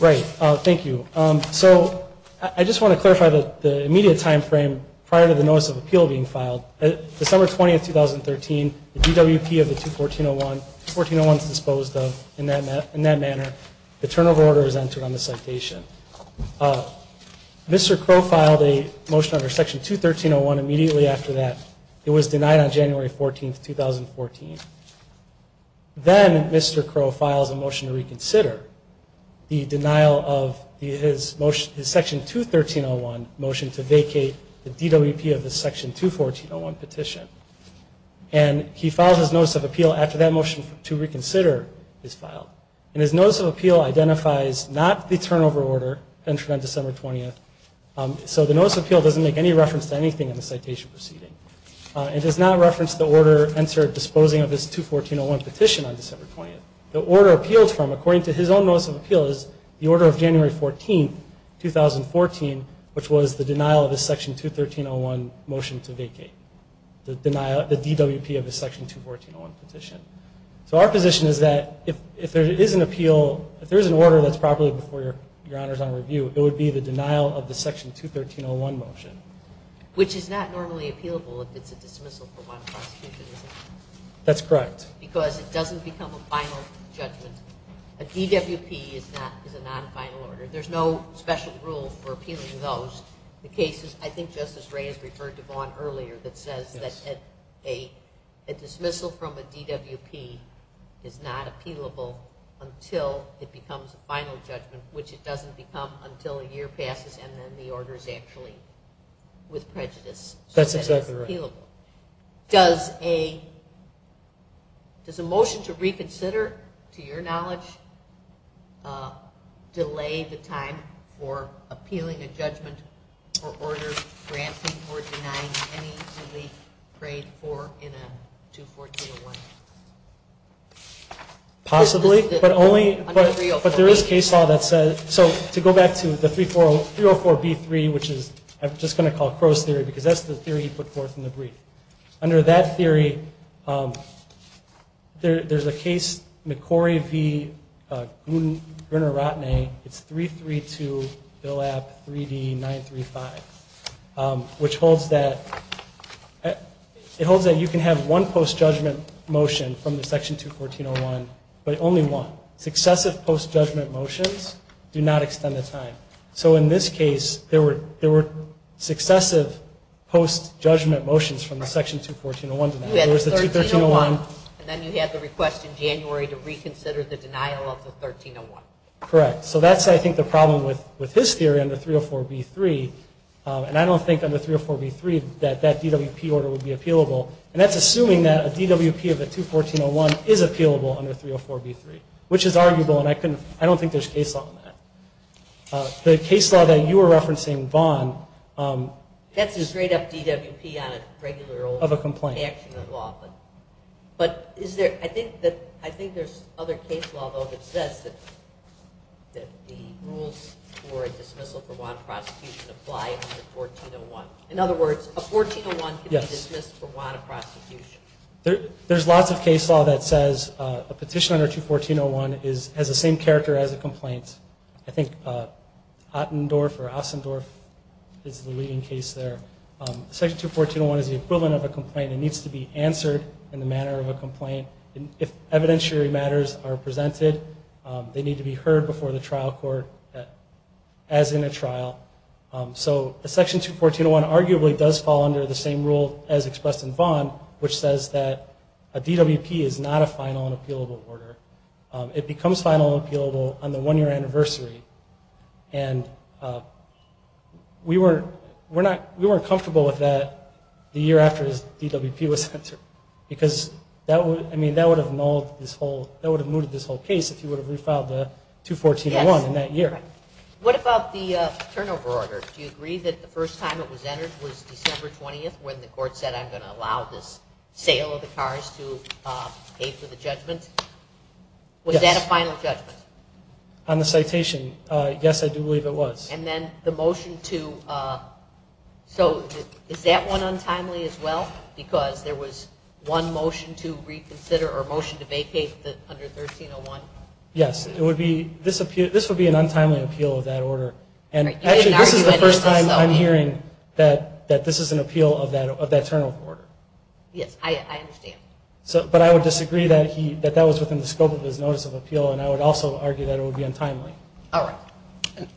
Right. Thank you. So I just want to clarify the immediate time frame prior to the notice of appeal being filed. December 20, 2013, the DWP of the 214.01, 214.01 is disposed of in that manner. The turn of order is entered on the citation. Mr. Crow filed a motion under Section 213.01 immediately after that. It was denied on January 14, 2014. Then Mr. Crow files a motion to reconsider the denial of his Section 213.01 motion to vacate the DWP of the Section 214.01 petition. And he files his notice of appeal after that motion to reconsider is filed. And his notice of appeal identifies not the turnover order entered on December 20th. So the notice of appeal doesn't make any reference to anything in the citation proceeding. It does not reference the order entered disposing of his 214.01 petition on December 20th. The order appealed from, according to his own notice of appeal, is the order of January 14, 2014, which was the denial of his Section 213.01 motion to vacate, the DWP of his Section 214.01 petition. So our position is that if there is an appeal, if there is an order that's properly before your honors on review, it would be the denial of the Section 213.01 motion. Which is not normally appealable if it's a dismissal for one prosecution, is it? That's correct. Because it doesn't become a final judgment. A DWP is a non-final order. There's no special rule for appealing those. The case is, I think Justice Wray has referred to Vaughn earlier, that says that a dismissal from a DWP is not appealable until it becomes a final judgment, which it doesn't become until a year passes and then the order is actually with prejudice. That's exactly right. Does a motion to reconsider, to your knowledge, delay the time for appealing a judgment or order granting or denying any relief paid for in a 214.01 case? Possibly. But there is case law that says, so to go back to the 304B3, which I'm just going to call Crow's Theory, because that's the theory he put forth in the brief. Under that theory, there's a case, McCorry v. Gruner-Rotnay, it's 332 Bill App 3D 935, which holds that you can have one post-judgment motion from the Section 214.01, but only one. Successive post-judgment motions do not extend the time. So in this case, there were successive post-judgment motions from the Section 214.01. You had the 13.01 and then you had the request in January to reconsider the denial of the 13.01. Correct. So that's, I think, the problem with his theory under 304B3. And I don't think under 304B3 that that DWP order would be appealable. And that's assuming that a DWP of the 214.01 is appealable under 304B3, which is arguable, and I don't think there's case law on that. The case law that you were referencing, Vaughan. That's a straight-up DWP on a regular old action of law. Of a complaint. But I think there's other case law, though, that says that the rules for a dismissal for Vaughan prosecution apply under the 14.01. In other words, a 14.01 can be dismissed for Vaughan prosecution. There's lots of case law that says a petition under 214.01 has the same character as a complaint. I think Attendorf or Ossendorf is the leading case there. Section 214.01 is the equivalent of a complaint. It needs to be answered in the manner of a complaint. If evidentiary matters are presented, they need to be heard before the trial court as in a trial. So Section 214.01 arguably does fall under the same rule as expressed in Vaughan, which says that a DWP is not a final and appealable order. It becomes final and appealable on the one-year anniversary. And we weren't comfortable with that the year after the DWP was entered. Because that would have nulled this whole case if you would have refiled the 214.01 in that year. What about the turnover order? Do you agree that the first time it was entered was December 20th when the court said I'm going to allow this sale of the cars to pay for the judgment? Yes. Was that a final judgment? On the citation, yes, I do believe it was. And then the motion to so is that one untimely as well? Because there was one motion to reconsider or motion to vacate under 13.01? Yes. This would be an untimely appeal of that order. And actually this is the first time I'm hearing that this is an appeal of that turnover order. Yes, I understand. But I would disagree that that was within the scope of his notice of appeal, and I would also argue that it would be untimely. All right.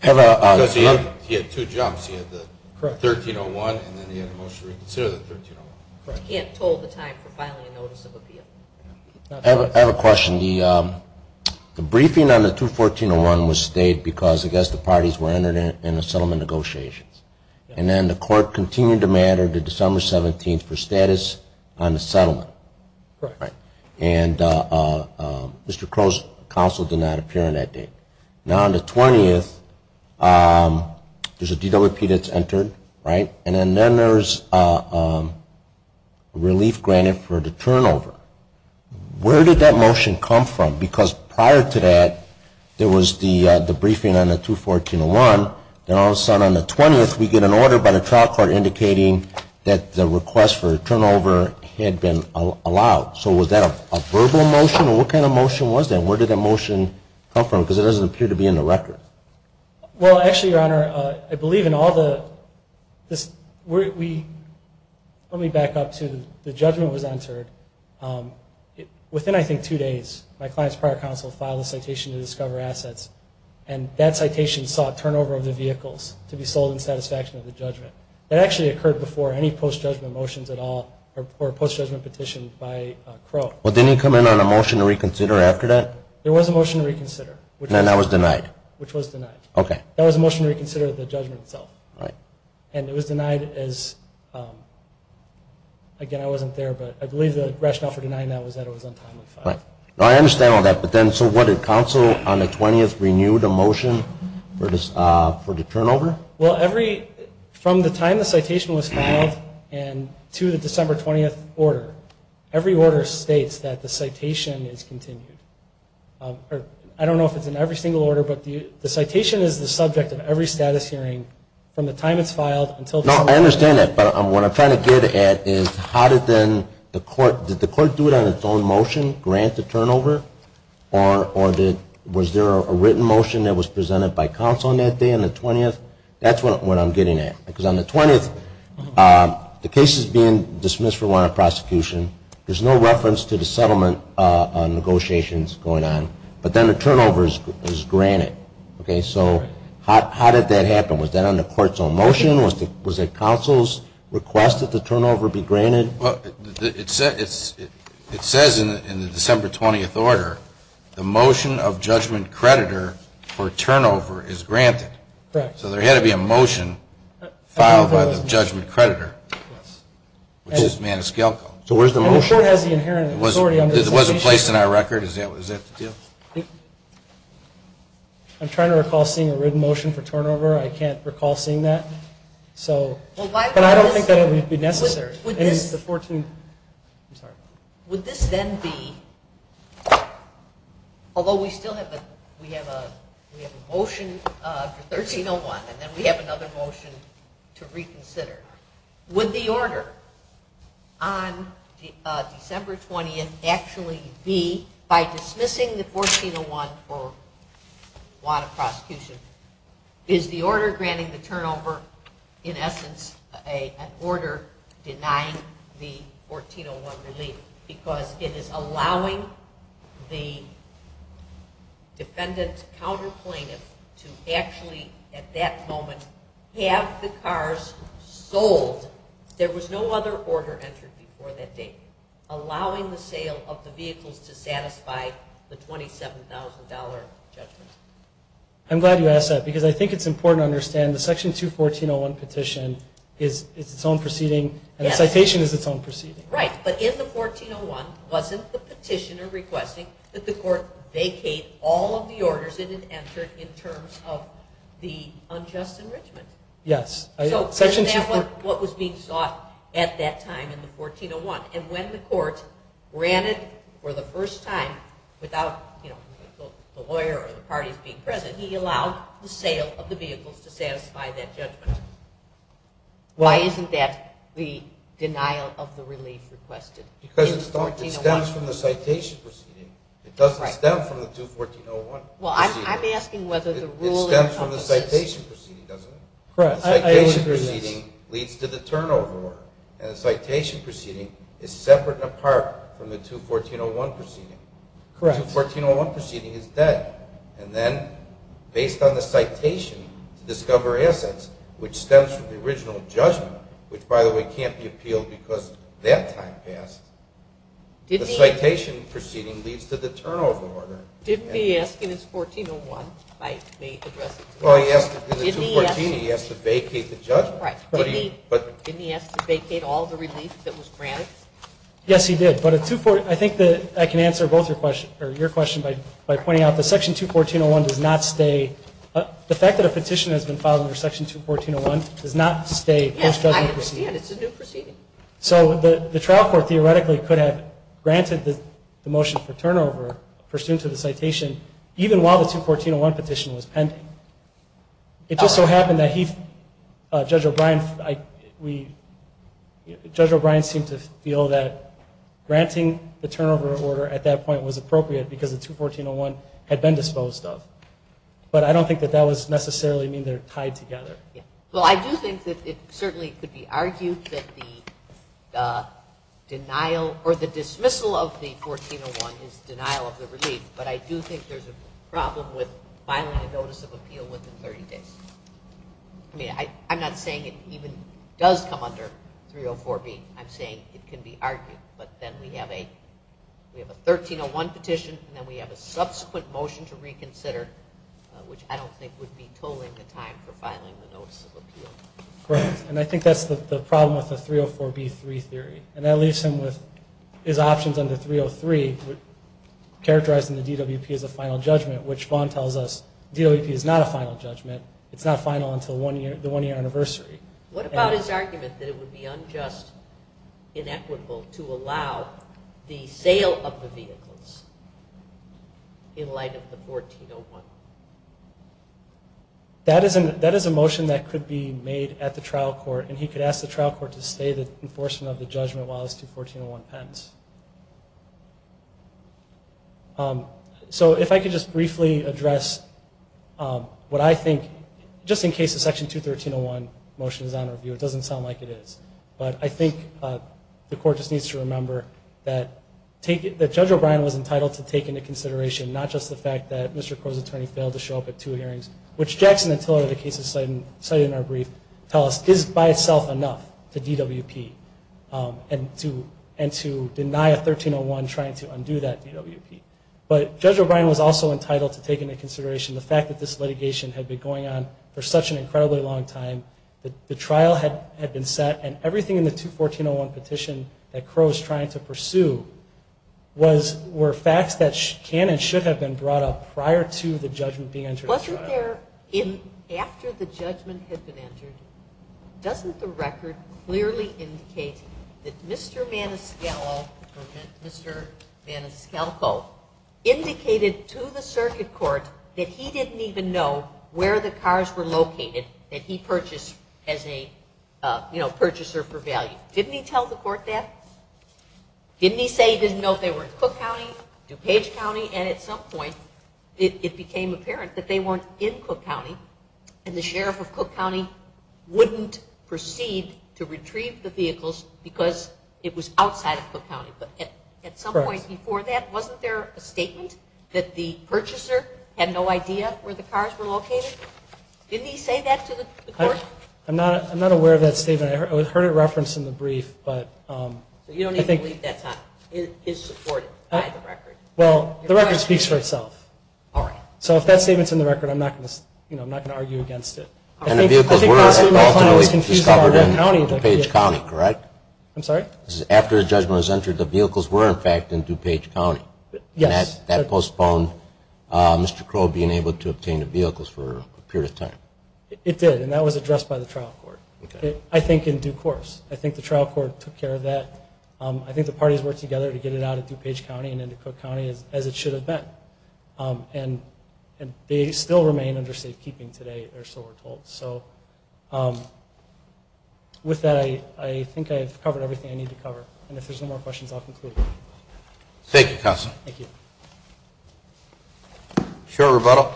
Because he had two jumps. He had the 13.01 and then he had a motion to reconsider the 13.01. And told the time for filing a notice of appeal. I have a question. The briefing on the 214.01 was stayed because, I guess, the parties were entered in the settlement negotiations. And then the court continued the matter to December 17th for status on the settlement. Right. And Mr. Crow's counsel did not appear on that date. Now on the 20th, there's a DWP that's entered, right? And then there's relief granted for the turnover. Where did that motion come from? Because prior to that, there was the briefing on the 214.01. Then all of a sudden on the 20th, we get an order by the trial court indicating that the request for turnover had been allowed. So was that a verbal motion? Or what kind of motion was that? And where did that motion come from? Because it doesn't appear to be in the record. Well, actually, Your Honor, I believe in all the, let me back up to the judgment was entered. Within, I think, two days, my client's prior counsel filed a citation to discover assets. And that citation sought turnover of the vehicles to be sold in satisfaction of the judgment. That actually occurred before any post-judgment motions at all or post-judgment petitions by Crow. Well, didn't he come in on a motion to reconsider after that? There was a motion to reconsider. And that was denied? Which was denied. Okay. That was a motion to reconsider the judgment itself. Right. And it was denied as, again, I wasn't there, but I believe the rationale for denying that was that it was untimely. Right. I understand all that, but then so what, did counsel on the 20th renew the motion for the turnover? Well, every, from the time the citation was filed and to the December 20th order, every order states that the citation is continued. I don't know if it's in every single order, but the citation is the subject of every status hearing from the time it's filed until December 20th. No, I understand that. But what I'm trying to get at is how did then the court, did the court do it on its own motion, grant the turnover, or was there a written motion that was presented by counsel on that day on the 20th? That's what I'm getting at. Because on the 20th, the case is being dismissed for warrant of prosecution. There's no reference to the settlement negotiations going on. But then the turnover is granted, okay? So how did that happen? Was that on the court's own motion? Was it counsel's request that the turnover be granted? Well, it says in the December 20th order, the motion of judgment creditor for turnover is granted. Right. So there had to be a motion filed by the judgment creditor, which is Maniscalco. So where's the motion? It wasn't placed in our record. Is that the deal? I'm trying to recall seeing a written motion for turnover. I can't recall seeing that. But I don't think that it would be necessary. Would this then be, although we still have a motion for 1301, and then we have another motion to reconsider, would the order on December 20th actually be, by dismissing the 1401 for warrant of prosecution, is the order granting the turnover in essence an order denying the 1401 relief? Because it is allowing the defendant's counter plaintiff to actually, at that moment, have the cars sold. There was no other order entered before that date, allowing the sale of the vehicles to satisfy the $27,000 judgment. I'm glad you asked that, because I think it's important to understand the Section 214.01 petition is its own proceeding, and the citation is its own proceeding. Right. But in the 1401, wasn't the petitioner requesting that the court vacate all of the orders that had entered in terms of the unjust enrichment? Yes. So isn't that what was being sought at that time in the 1401? And when the court granted for the first time, without the lawyer or the parties being present, he allowed the sale of the vehicles to satisfy that judgment. Why isn't that the denial of the relief requested in the 1401? Because it stems from the citation proceeding. It doesn't stem from the 214.01 proceeding. Well, I'm asking whether the rule encompasses. It stems from the citation proceeding, doesn't it? Correct. I would agree with this. The citation proceeding leads to the turnover order, and the citation proceeding is separate and apart from the 214.01 proceeding. Correct. The 214.01 proceeding is dead. And then, based on the citation to discover assets, which stems from the original judgment, which, by the way, can't be appealed because that time passed, the citation proceeding leads to the turnover order. Didn't he ask in his 1401, if I may address this? Well, in the 214, he asked to vacate the judgment. Right. Didn't he ask to vacate all the relief that was granted? Yes, he did. But I think that I can answer both your question by pointing out the section 214.01 does not stay. The fact that a petition has been filed under section 214.01 does not stay post-judgment proceeding. Yes, I understand. It's a new proceeding. So the trial court theoretically could have granted the motion for turnover pursuant to the citation, even while the 214.01 petition was pending. It just so happened that Judge O'Brien seemed to feel that granting the turnover order at that point was appropriate because the 214.01 had been disposed of. But I don't think that that would necessarily mean they're tied together. Well, I do think that it certainly could be argued that the denial or the dismissal of the 1401 is denial of the relief. But I do think there's a problem with filing a notice of appeal within 30 days. I mean, I'm not saying it even does come under 304B. I'm saying it can be argued. But then we have a 1301 petition, and then we have a subsequent motion to file a notice of appeal. Right. And I think that's the problem with the 304B.3 theory. And that leaves him with his options under 303, characterizing the DWP as a final judgment, which Vaughn tells us DWP is not a final judgment. It's not final until the one-year anniversary. What about his argument that it would be unjust, inequitable to allow the sale of the vehicles in light of the 1401? That is a motion that could be made at the trial court, and he could ask the trial court to stay the enforcement of the judgment while his 214.01 pens. So if I could just briefly address what I think, just in case the Section 213.01 motion is on review. It doesn't sound like it is. But I think the court just needs to remember that Judge O'Brien was entitled to take into consideration not just the fact that Mr. Kennedy failed to show up at two hearings, which Jackson and Tiller, the cases cited in our brief, tell us is by itself enough to DWP and to deny a 1301 trying to undo that DWP. But Judge O'Brien was also entitled to take into consideration the fact that this litigation had been going on for such an incredibly long time, the trial had been set, and everything in the 214.01 petition that Crow was trying to pursue were facts that can and should have been brought up prior to the judgment being entered at the trial. Wasn't there, after the judgment had been entered, doesn't the record clearly indicate that Mr. Maniscalco indicated to the circuit court that he didn't even know where the cars were located that he purchased as a, you know, purchaser for value. Didn't he tell the court that? Didn't he say he didn't know if they were in Cook County, DuPage County, and at some point it became apparent that they weren't in Cook County, and the sheriff of Cook County wouldn't proceed to retrieve the vehicles because it was outside of Cook County. But at some point before that, wasn't there a statement that the purchaser had no idea where the cars were located? Didn't he say that to the court? I'm not aware of that statement. I heard it referenced in the brief. So you don't even believe that's how it is supported by the record? Well, the record speaks for itself. All right. So if that statement's in the record, I'm not going to argue against it. And the vehicles were ultimately discovered in DuPage County, correct? I'm sorry? After the judgment was entered, the vehicles were, in fact, in DuPage County. Yes. And that postponed Mr. Crow being able to obtain the vehicles for a period of time. It did, and that was addressed by the trial court. Okay. I think in due course. I think the trial court took care of that. I think the parties worked together to get it out of DuPage County and into Cook County, as it should have been. And they still remain under safekeeping today, or so we're told. So with that, I think I've covered everything I need to cover. And if there's no more questions, I'll conclude. Thank you, Counsel. Thank you. Short rebuttal.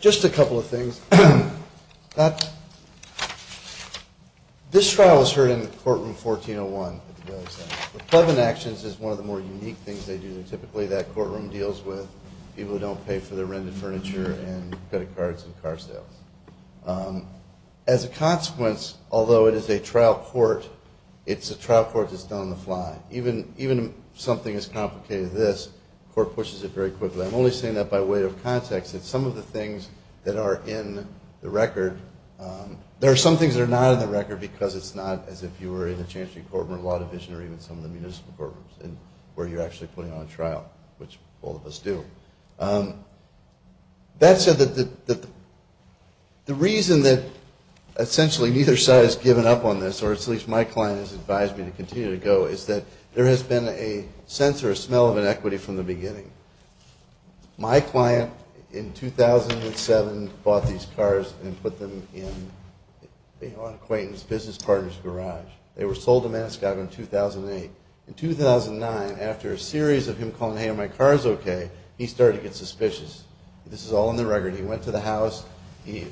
Just a couple of things. This trial was heard in the courtroom 1401. The Pleasant Actions is one of the more unique things they do. Typically, that courtroom deals with people who don't pay for their rented furniture and credit cards and car sales. As a consequence, although it is a trial court, it's a trial court that's done on the fly. Even something as complicated as this, the court pushes it very quickly. I'm only saying that by way of context. It's some of the things that are in the record. There are some things that are not in the record because it's not as if you were in the Chancellor's Department, Law Division, or even some of the municipal courtrooms where you're actually putting on a trial, which all of us do. That said, the reason that essentially neither side has given up on this, or at least my client has advised me to continue to go, is that there has been a sense or a smell of inequity from the beginning. My client, in 2007, bought these cars and put them in an acquaintance, business partner's garage. They were sold to Maniscog in 2008. In 2009, after a series of him calling, hey, are my cars okay, he started to get suspicious. This is all in the record. He went to the house. He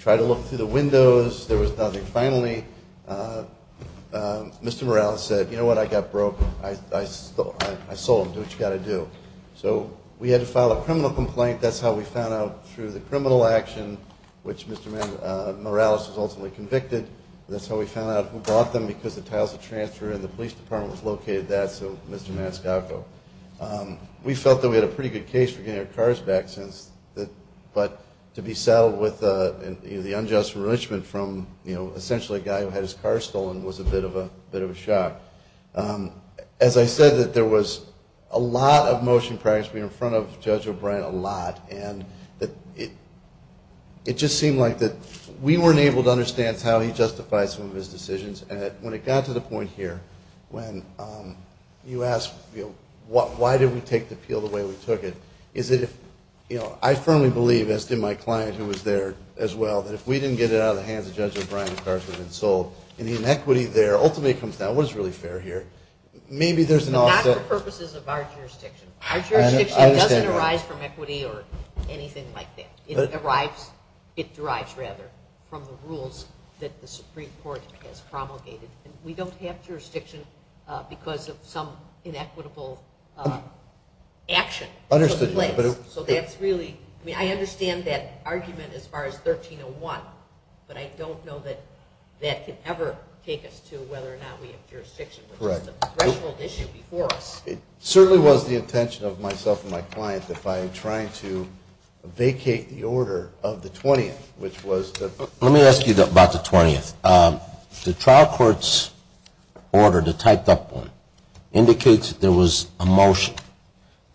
tried to look through the windows. There was nothing. Finally, Mr. Morales said, you know what? I got broke. I sold them. Do what you got to do. So we had to file a criminal complaint. That's how we found out through the criminal action, which Mr. Morales was ultimately convicted. That's how we found out who bought them, because the title of the transfer in the police department was located there, so Mr. Maniscog. We felt that we had a pretty good case for getting our cars back, but to be saddled with the unjust enrichment from essentially a guy who had his car stolen was a bit of a shock. As I said, there was a lot of motion practice. We were in front of Judge O'Brien a lot, and it just seemed like we weren't able to understand how he justified some of his decisions. When it got to the point here when you ask why did we take the appeal the way we took it, I firmly believe, as did my client who was there as well, that if we didn't get it out of the hands of Judge O'Brien, the cars would have been sold, and the inequity there ultimately comes down to what is really fair here. Maybe there's an offset. Not for purposes of our jurisdiction. Our jurisdiction doesn't arise from equity or anything like that. It derives from the rules that the Supreme Court has promulgated. We don't have jurisdiction because of some inequitable action. I understand that argument as far as 1301, but I don't know that that can ever take us to whether or not we have jurisdiction. It's a threshold issue before us. It certainly was the intention of myself and my client that by trying to vacate the order of the 20th, which was the Let me ask you about the 20th. The trial court's order, the typed up one, indicates that there was a motion,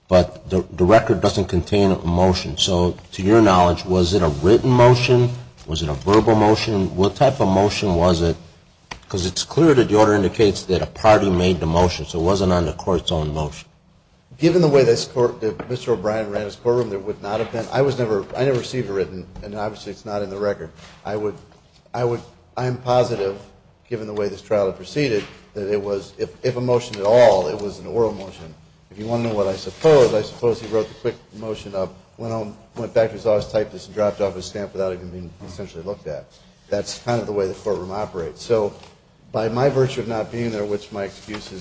but the record doesn't contain a motion. So to your knowledge, was it a written motion? Was it a verbal motion? What type of motion was it? Because it's clear that the order indicates that a party made the motion, so it wasn't on the court's own motion. Given the way that Mr. O'Brien ran his courtroom, there would not have been I never received a written, and obviously it's not in the record. I am positive, given the way this trial had proceeded, that it was, if a motion at all, it was an oral motion. If you want to know what I suppose, I suppose he wrote the quick motion up, went back to his office, typed this, and dropped it off his stamp without even being essentially looked at. That's kind of the way the courtroom operates. So by my virtue of not being there, which my excuse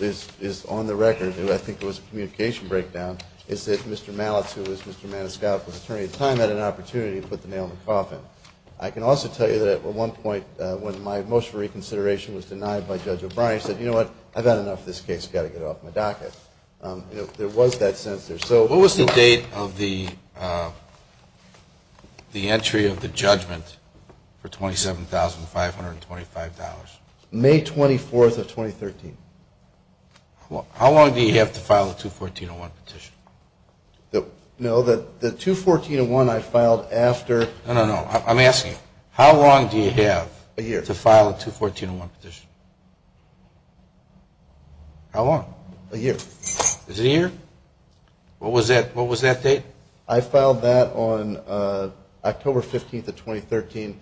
is on the record, and I think it was a communication breakdown, is that Mr. Malitz, who was Mr. Maniscalco's attorney at the time, had an opportunity to put the nail in the coffin. I can also tell you that at one point when my motion for reconsideration was denied by Judge O'Brien, he said, you know what? I've had enough of this case. I've got to get it off my docket. There was that sense there. What was the date of the entry of the judgment for $27,525? May 24th of 2013. How long do you have to file a 214.01 petition? No, the 214.01 I filed after. No, no, no. I'm asking, how long do you have to file a 214.01 petition? How long? A year. Is it a year? What was that date? I filed that on October 15th of 2013.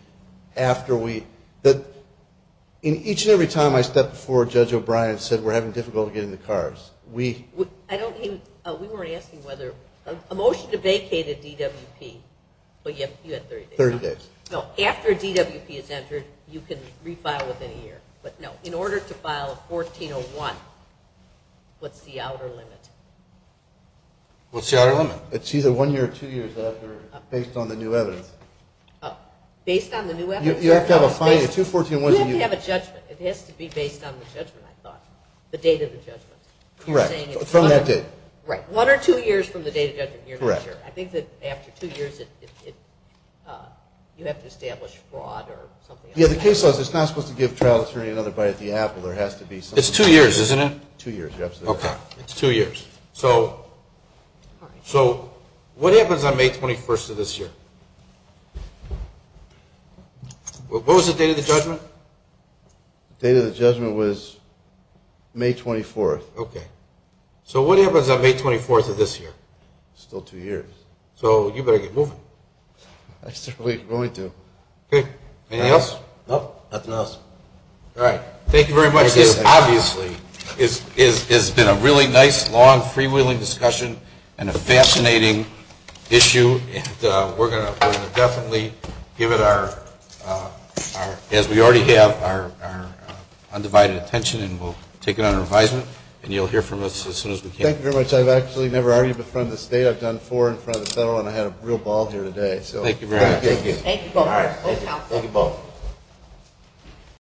Each and every time I stepped forward, Judge O'Brien said, we're having difficulty getting the cars. We were asking whether a motion to vacate a DWP, but you had 30 days. No, after a DWP is entered, you can refile within a year. But, no, in order to file a 14.01, what's the outer limit? What's the outer limit? It's either one year or two years based on the new evidence. Based on the new evidence? You have to have a fine, a 214.01. You have to have a judgment. It has to be based on the judgment, I thought, the date of the judgment. Correct. From that date. Right. One or two years from the date of judgment, you're not sure. Correct. I think that after two years, you have to establish fraud or something. Yeah, the case laws, it's not supposed to give trial attorney another bite at the apple. It's two years, isn't it? Two years. Okay. It's two years. So, what happens on May 21st of this year? What was the date of the judgment? The date of the judgment was May 24th. Okay. So, what happens on May 24th of this year? Still two years. So, you better get moving. I certainly am going to. Okay. Anything else? Nope, nothing else. All right. Thank you very much. This, obviously, has been a really nice, long, freewheeling discussion and a fascinating issue. And we're going to definitely give it our, as we already have, our undivided attention, and we'll take it under advisement, and you'll hear from us as soon as we can. Thank you very much. I've actually never argued in front of the state. I've done four in front of the federal, and I had a real ball here today. Thank you very much. Thank you. Thank you both. All right. Thank you.